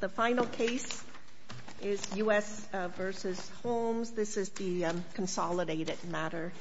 The final case is U.S. v. Holmes. This is the consolidated matter.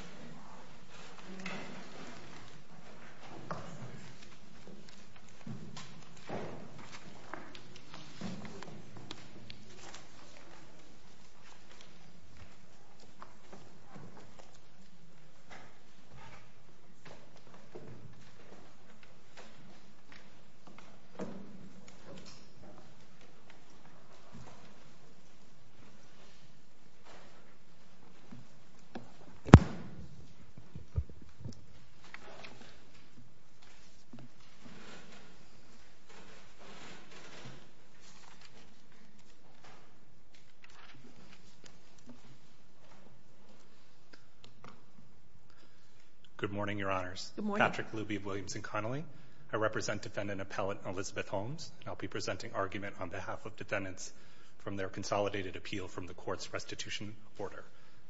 Good morning, Your Honors. Patrick Luby of Williams & Connolly. I represent Defendant Appellant Elizabeth Holmes, and I'll be presenting argument on behalf of defendants from their consolidated appeal from the Court's restitution order.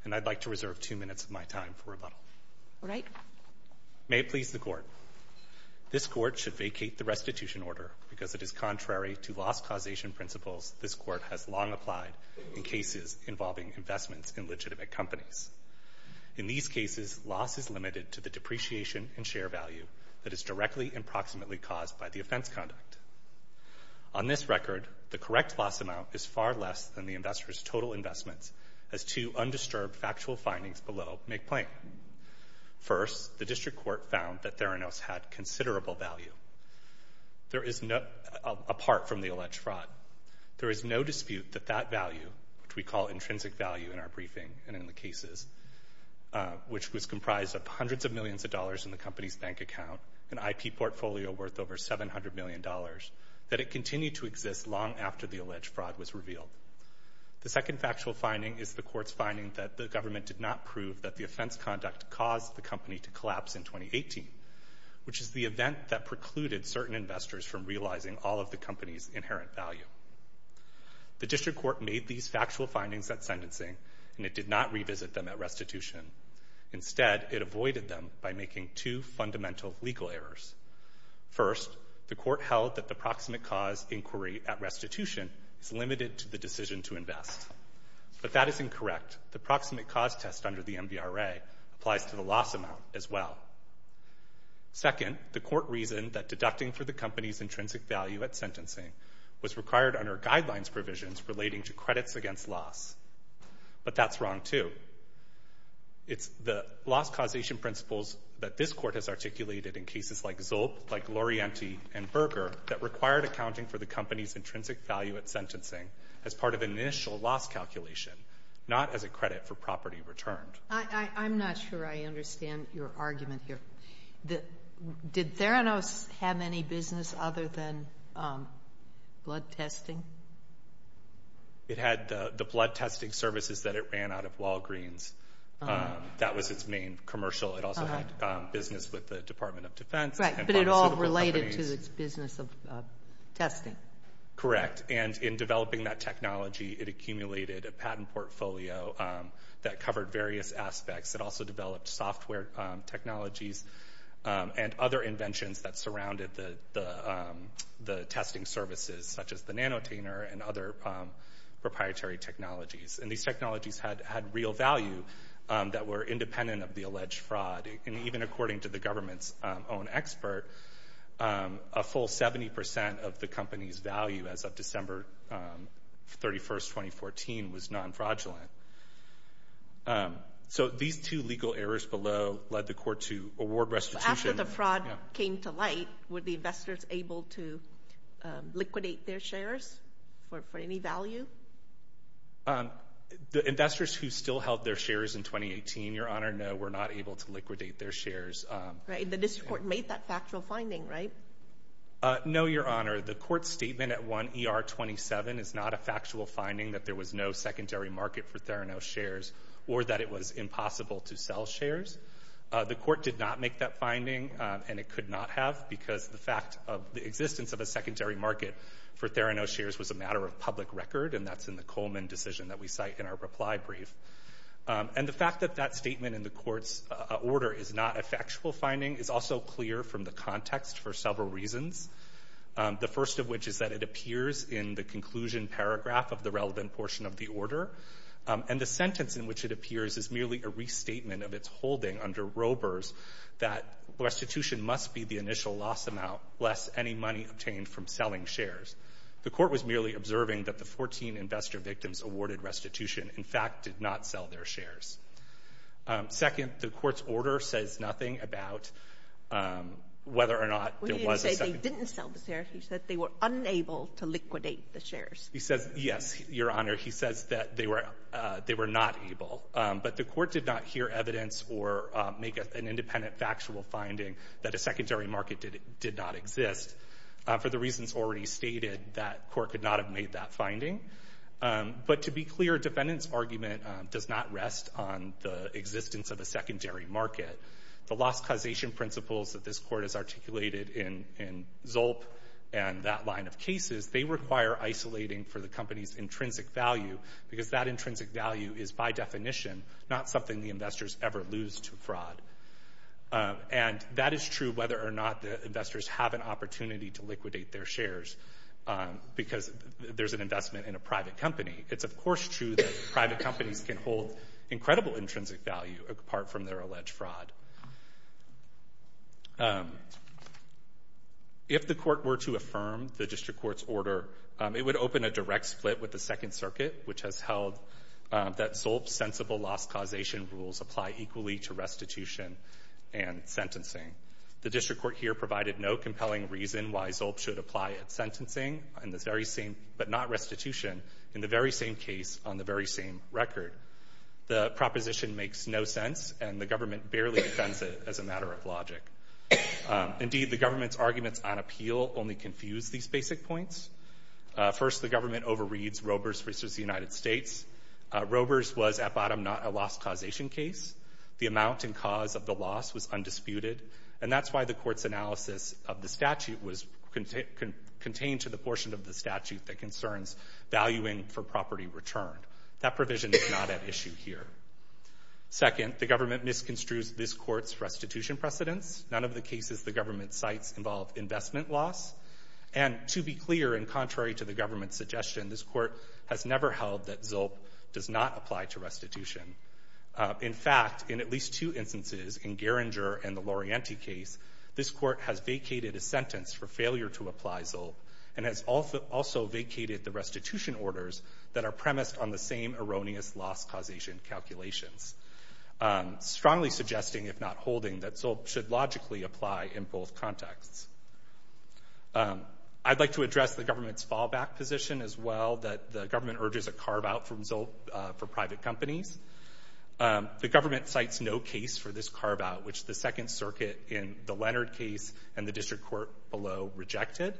And I'd like to reserve two minutes of my time for rebuttal. All right. May it please the Court, this Court should vacate the restitution order because it is contrary to loss causation principles this Court has long applied in cases involving investments in legitimate companies. In these cases, loss is limited to the depreciation and share value that is directly and proximately caused by the defendant's conduct. On this record, the correct loss amount is far less than the investor's total investments as two undisturbed factual findings below make plain. First, the District Court found that Theranos had considerable value apart from the alleged fraud. There is no dispute that that value, which we call intrinsic value in our briefing and in the cases, which was comprised of hundreds of millions of dollars in the company's bank account, an IP portfolio worth over $700 million, that it continued to exist long after the alleged fraud was revealed. The second factual finding is the Court's finding that the government did not prove that the offense conduct caused the company to collapse in 2018, which is the event that precluded certain investors from realizing all of the company's inherent value. The District Court made these factual findings at sentencing and it did not revisit them at restitution. Instead, it avoided them by making two fundamental legal errors. First, the Court held that the proximate cause inquiry at restitution is limited to the decision to invest, but that is incorrect. The proximate cause test under the MDRA applies to the loss amount as well. Second, the Court reasoned that deducting for the company's intrinsic value at sentencing was required under guidelines provisions relating to credits against loss, but that's wrong too. It's the loss causation principles that this Court has articulated in cases like Zolp, like Lorienti, and Berger that required accounting for the company's intrinsic value at sentencing as part of an initial loss calculation, not as a credit for property returned. I'm not sure I understand your argument here. Did Theranos have any business other than blood testing? It had the blood testing services that it ran out of Walgreens. That was its main commercial. It also had business with the Department of Defense. Right, but it all related to its business of testing. Correct. And in developing that technology, it accumulated a patent portfolio that covered various aspects. It also developed software technologies and other inventions that surrounded the testing services, such as the NanoTainer and other proprietary technologies. And these technologies had real value that were independent of the alleged fraud. And even according to the government's own expert, a full 70% of the company's value as of December 31st, 2014, was non-fraudulent. So these two legal errors below led the Court to award restitution. After the fraud came to light, were the investors able to liquidate their shares for any value? The investors who still held their shares in 2018, Your Honor, no, were not able to liquidate their shares. Right, the District Court made that factual finding, right? No, Your Honor. The Court's statement at 1 ER 27 is not a factual finding that there was no secondary market for Theranos shares or that it was impossible to sell shares. The Court did not make that finding, and it could not have, because the fact of the existence of a secondary market for Theranos shares was a matter of public record, and that's in the Coleman decision that we cite in our reply brief. And the fact that that statement in the Court's order is not a factual finding is also clear from the context for several reasons. The first of which is that it appears in the conclusion paragraph of the relevant portion of the order, and the sentence in which it appears is merely a restatement of its holding under Roebers that restitution must be the initial loss amount, lest any money obtained from selling shares. The Court was merely observing that the 14 investor victims awarded restitution, in fact, did not sell their shares. Second, the Court's order says nothing about whether or not there was a secondary market. He didn't say they didn't sell the shares. He said they were unable to liquidate the shares. He says, yes, Your Honor. He says that they were not able. But the Court did not hear evidence or make an independent factual finding that a secondary market did not exist, for the reasons already stated, that Court could not have made that finding. But to be clear, defendant's argument does not rest on the existence of a secondary market. The loss causation principles that this Court has articulated in Zolp and that line of cases, they require isolating for the company's intrinsic value, because that intrinsic value is, by definition, not something the investors ever lose to fraud. And that is true whether or not the investors have an opportunity to liquidate their shares, because there's an investment in a private company. It's, of course, true that private companies can hold incredible intrinsic value apart from their alleged fraud. If the Court were to affirm the District Court's order, it would open a direct split with the Second Circuit, which has held that Zolp's sensible loss causation rules apply equally to restitution and sentencing. The District Court here provided no compelling reason why Zolp should apply at sentencing, but not restitution, in the very same case on the very same record. The proposition makes no sense, and the government barely defends it as a matter of logic. Indeed, the government's arguments on appeal only confuse these basic points. First, the government overreads Robers v. United States. Robers was, at bottom, not a loss causation case. The amount and cause of the loss was undisputed, and that's why the Court's analysis of the statute was contained to the portion of the statute that concerns valuing for property returned. That provision is not at issue here. Second, the government misconstrues this Court's restitution precedents. None of the cases the government cites involve investment loss. And to be clear, and contrary to the government's suggestion, this Court has never held that Zolp does not apply to restitution. In fact, in at least two instances, in Geringer and the Lorienti case, this Court has vacated a sentence for failure to apply Zolp, and has also vacated the restitution orders that are premised on the same erroneous loss causation calculations, strongly suggesting, if not holding, that Zolp should logically apply in both contexts. I'd like to address the government's fallback position, as well, that the government urges a carve-out for Zolp for private companies. The government cites no case for this carve-out, which the Second Circuit in the Leonard case and the district court below rejected.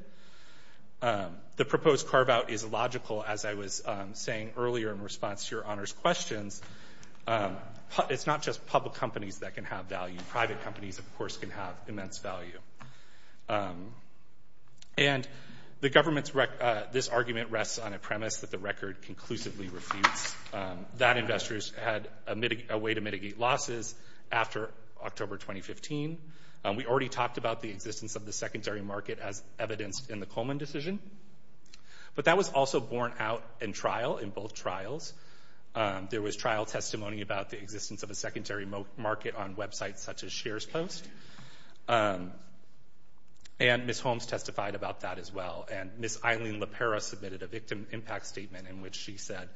The proposed carve-out is logical, as I was saying earlier in response to Your Honor's questions. It's not just public companies that can have value. Private companies, of course, can have immense value. And the government's rec — this argument rests on a premise that the record conclusively refutes. That investors had a way to mitigate losses after October 2015. We already talked about the existence of the secondary market as evidenced in the Coleman decision, but that was also borne out in trial, in both trials. There was trial testimony about the existence of a secondary market on websites such as SharesPost, and Ms. Elaine LePera submitted a victim impact statement in which she said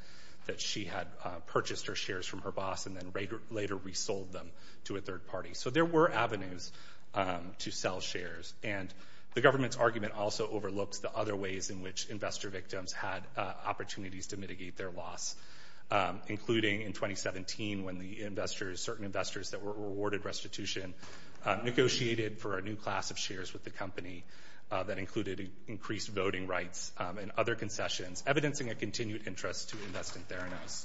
that she had purchased her shares from her boss and then later resold them to a third party. So there were avenues to sell shares. And the government's argument also overlooks the other ways in which investor victims had opportunities to mitigate their loss, including in 2017 when the investors — certain investors that were awarded restitution negotiated for a new class of shares with the in other concessions, evidencing a continued interest to invest in Theranos.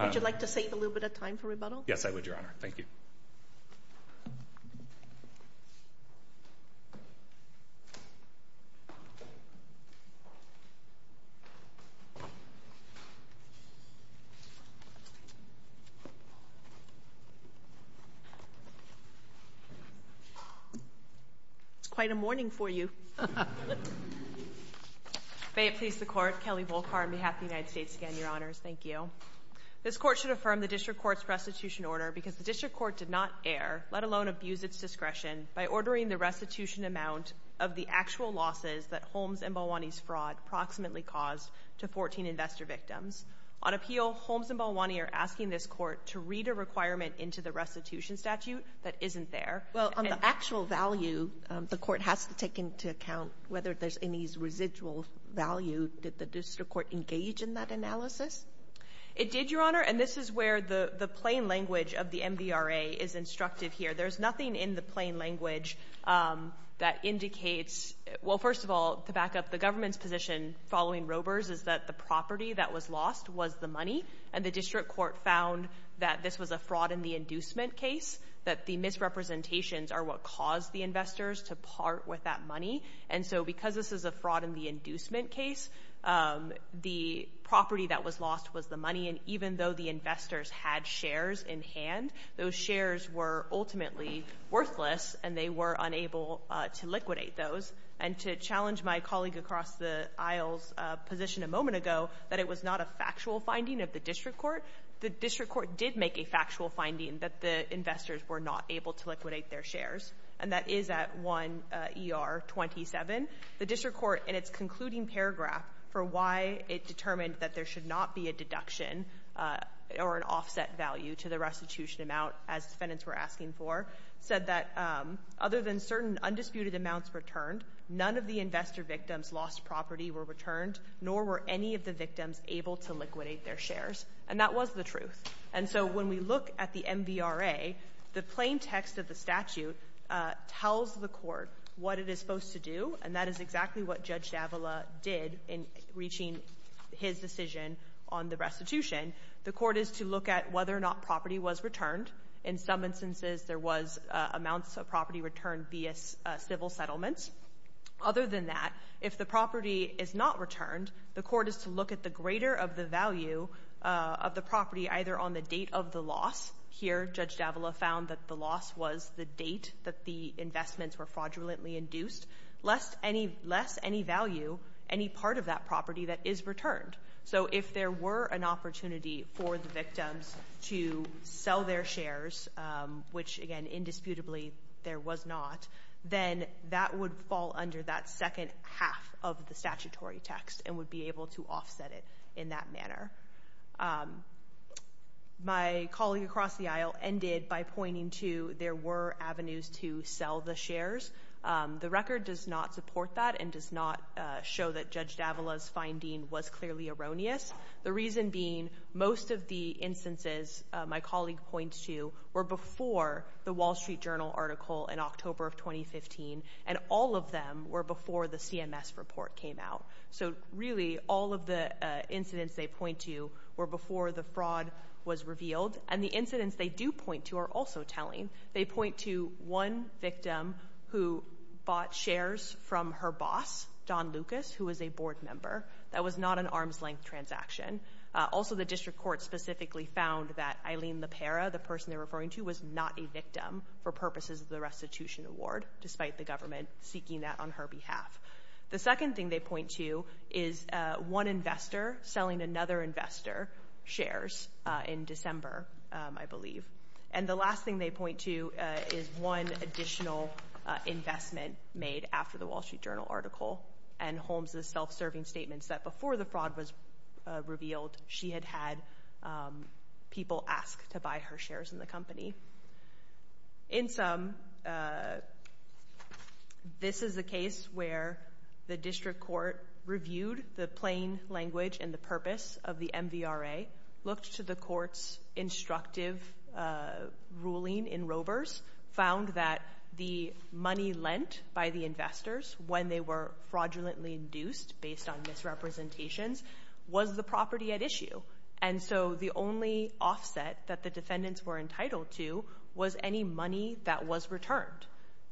Would you like to save a little bit of time for rebuttal? Yes, I would, Your Honor. Thank you. It's quite a morning for you. May it please the Court, Kelly Volkar on behalf of the United States again, Your Honors. Thank you. This Court should affirm the District Court's restitution order because the District Court did not err, let alone abuse its discretion, by ordering the restitution amount of the actual losses that Holmes and Balwani's fraud approximately caused to 14 investor victims. On appeal, Holmes and Balwani are asking this Court to read a requirement into the restitution statute that isn't there. Well, on the actual value, the Court has to take into account whether there's any residual value. Did the District Court engage in that analysis? It did, Your Honor, and this is where the plain language of the MDRA is instructive here. There's nothing in the plain language that indicates, well, first of all, to back up, the government's position following Roeber's is that the property that was lost was the money, and the District Court found that this was a fraud in the inducement case, that the misrepresentations are what caused the investors to part with that money, and so because this is a fraud in the inducement case, the property that was lost, the investors had shares in hand. Those shares were ultimately worthless, and they were unable to liquidate those. And to challenge my colleague across the aisle's position a moment ago that it was not a factual finding of the District Court, the District Court did make a factual finding that the investors were not able to liquidate their shares, and that is at 1ER27. The District Court in its offset value to the restitution amount, as defendants were asking for, said that other than certain undisputed amounts returned, none of the investor victims' lost property were returned, nor were any of the victims able to liquidate their shares, and that was the truth. And so when we look at the MDRA, the plain text of the statute tells the Court what it is supposed to do, and that is exactly what Judge Davila did in reaching his decision on the restitution. The Court is to look at whether or not property was returned. In some instances, there was amounts of property returned via civil settlements. Other than that, if the property is not returned, the Court is to look at the greater of the value of the property, either on the date of the loss—here, Judge Davila found that the loss was the date that the investments were fraudulently induced—less any value, any part of that property that is returned. So if there were an opportunity for the victims to sell their shares, which again, indisputably, there was not, then that would fall under that second half of the statutory text and would be able to offset it in that manner. My colleague across the aisle ended by pointing to there were avenues to sell the shares. The record does not support that and does not show that Judge Davila's finding was clearly erroneous. The reason being, most of the instances my colleague points to were before the Wall Street Journal article in October of 2015, and all of them were before the CMS report came out. So really, all of the incidents they point to were before the fraud was revealed, and the incidents they do point to are also telling. They point to one victim who bought shares from her boss, Don Lucas, who was a board transaction. Also, the district court specifically found that Eileen LaPera, the person they're referring to, was not a victim for purposes of the restitution award, despite the government seeking that on her behalf. The second thing they point to is one investor selling another investor shares in December, I believe. And the last thing they point to is one additional investment made after the Wall Street Journal article and Holmes' self-serving statements that before the revealed she had had people ask to buy her shares in the company. In sum, this is the case where the district court reviewed the plain language and the purpose of the MVRA, looked to the court's instructive ruling in Rovers, found that the money lent by the investors when they were fraudulently induced based on misrepresentations was the property at issue. And so the only offset that the defendants were entitled to was any money that was returned.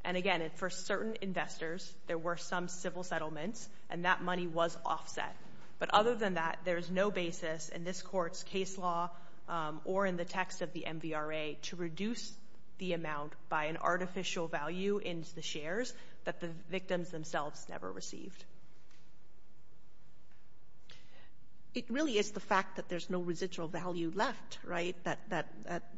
And again, for certain investors there were some civil settlements and that money was offset. But other than that, there's no basis in this court's case law or in the text of the MVRA to reduce the amount by an artificial value into the It really is the fact that there's no residual value left, right? That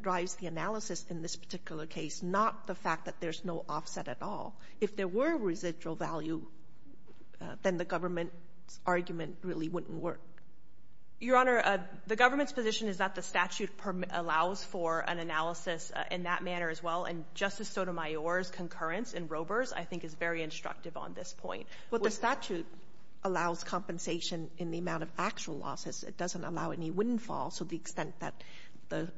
drives the analysis in this particular case, not the fact that there's no offset at all. If there were residual value, then the government's argument really wouldn't work. Your Honor, the government's position is that the statute allows for an analysis in that manner as well, and Justice Sotomayor's concurrence in the statute allows compensation in the amount of actual losses. It doesn't allow any windfall. So the extent that the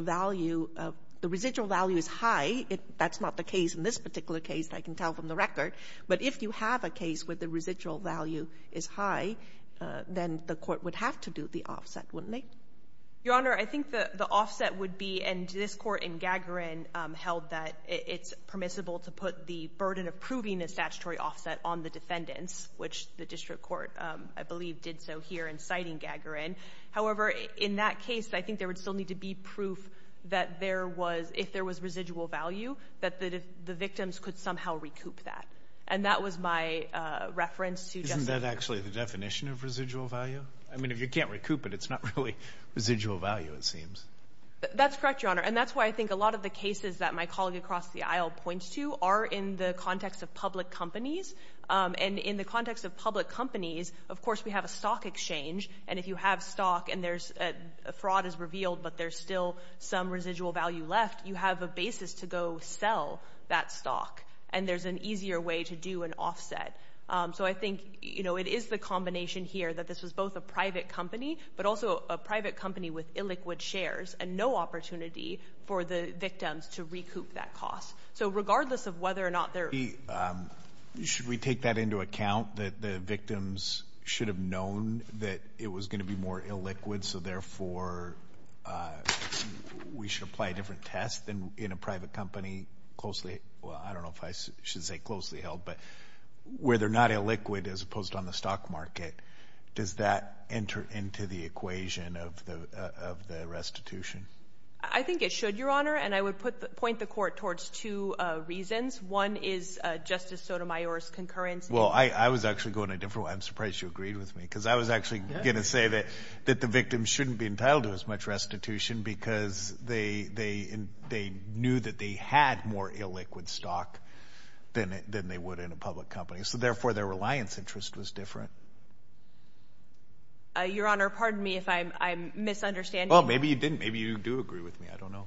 value of the residual value is high, that's not the case in this particular case, I can tell from the record. But if you have a case where the residual value is high, then the court would have to do the offset, wouldn't they? Your Honor, I think the offset would be, and this court in Gagarin held that it's permissible to put the burden of proving a statutory offset on the defendants, which the district court, I believe, did so here in citing Gagarin. However, in that case, I think there would still need to be proof that there was, if there was residual value, that the victims could somehow recoup that. And that was my reference to Justice Sotomayor. Isn't that actually the definition of residual value? I mean, if you can't recoup it, it's not really residual value, it seems. That's correct, Your Honor, and that's why I think a lot of the cases that my colleague across the aisle points to are in the context of public companies. And in the context of public companies, of course, we have a stock exchange, and if you have stock and there's, a fraud is revealed, but there's still some residual value left, you have a basis to go sell that stock. And there's an easier way to do an offset. So I think, you know, it is the combination here that this was both a private company, but also a private company with illiquid shares and no opportunity for the victims to recoup that cost. So regardless of whether or not there. Should we take that into account that the victims should have known that it was going to be more illiquid, so therefore we should apply a different test than in a private company closely, well, I don't know if I should say closely held, but where they're not illiquid as opposed to on the stock market, does that enter into the equation of the restitution? I think it should, Your Honor, and I would point the court towards two reasons. One is Justice Sotomayor's concurrence. Well, I was actually going a different way. I'm surprised you agreed with me because I was actually going to say that the victims shouldn't be entitled to as much restitution because they knew that they had more illiquid stock than they would in a public company. So therefore, their reliance interest was different. Your Honor, pardon me if I'm misunderstanding. Well, maybe you didn't. Maybe you agree with me. I don't know.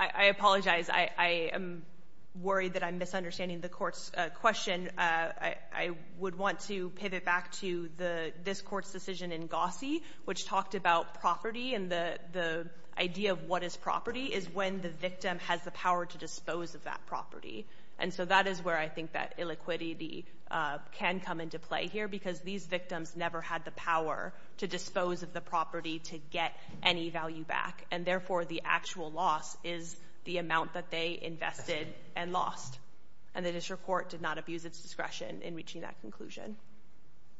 I apologize. I am worried that I'm misunderstanding the court's question. I would want to pivot back to this court's decision in Gossie, which talked about property and the idea of what is property is when the victim has the power to dispose of that property. And so that is where I think that illiquidity can come into play here because these victims never had the power to dispose of the property to get any value back. And therefore, the actual loss is the amount that they invested and lost. And the district court did not abuse its discretion in reaching that conclusion.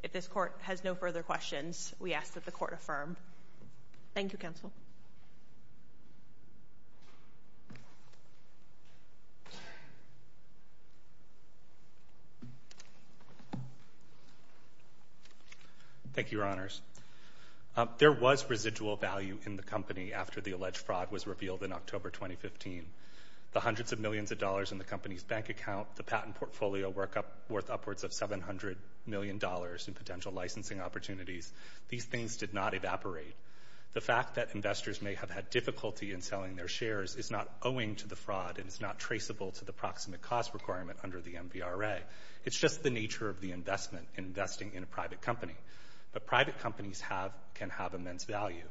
If this court has no further questions, we ask that the court affirmed. Thank you, Counsel. Thank you, Your Honors. There was residual value in the company after the alleged fraud was revealed in October 2015. The hundreds of millions of dollars in the company's bank account, the patent portfolio worth upwards of $700 million in potential licensing opportunities, these things did not occur. The fact that investors may have had difficulty in selling their shares is not owing to the fraud and is not traceable to the proximate cost requirement under the MVRA. It's just the nature of the investment in investing in a private company. But private companies can have immense value.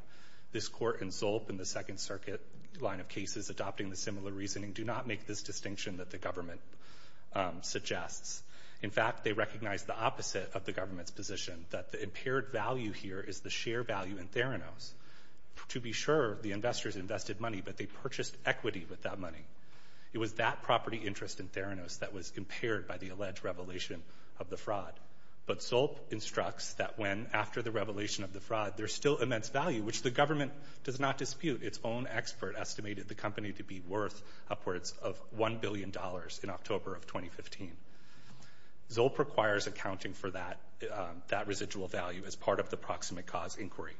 This court and Zolp in the Second Circuit line of cases adopting the similar reasoning do not make this distinction that the government suggests. In fact, they recognize the opposite of the government's position, that the impaired value here is the share value in Theranos. To be sure, the investors invested money, but they purchased equity with that money. It was that property interest in Theranos that was impaired by the alleged revelation of the fraud. But Zolp instructs that when after the revelation of the fraud, there's still immense value, which the government does not dispute. Its own expert estimated the company to be worth upwards of $1 billion in October of 2015. Zolp requires accounting for that residual value as part of the proximate cause inquiry.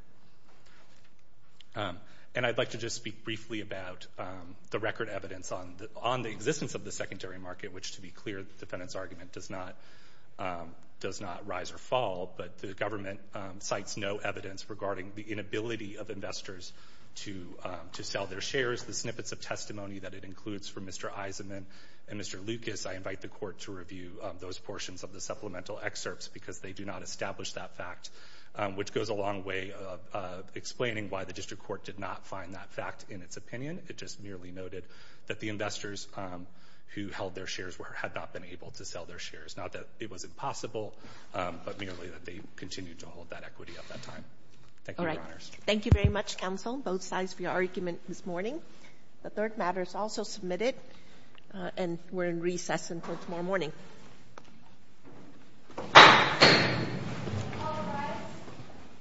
And I'd like to just speak briefly about the record evidence on the existence of the secondary market, which to be clear, the defendant's argument does not rise or fall. But the government cites no evidence regarding the inability of investors to sell their shares. The I invite the court to review those portions of the supplemental excerpts because they do not establish that fact, which goes a long way of explaining why the district court did not find that fact in its opinion. It just merely noted that the investors who held their shares had not been able to sell their shares. Not that it was impossible, but merely that they continued to hold that equity at that time. Thank you, Your Honors. Thank you very much, counsel, both sides for your argument this morning. The recess until tomorrow morning.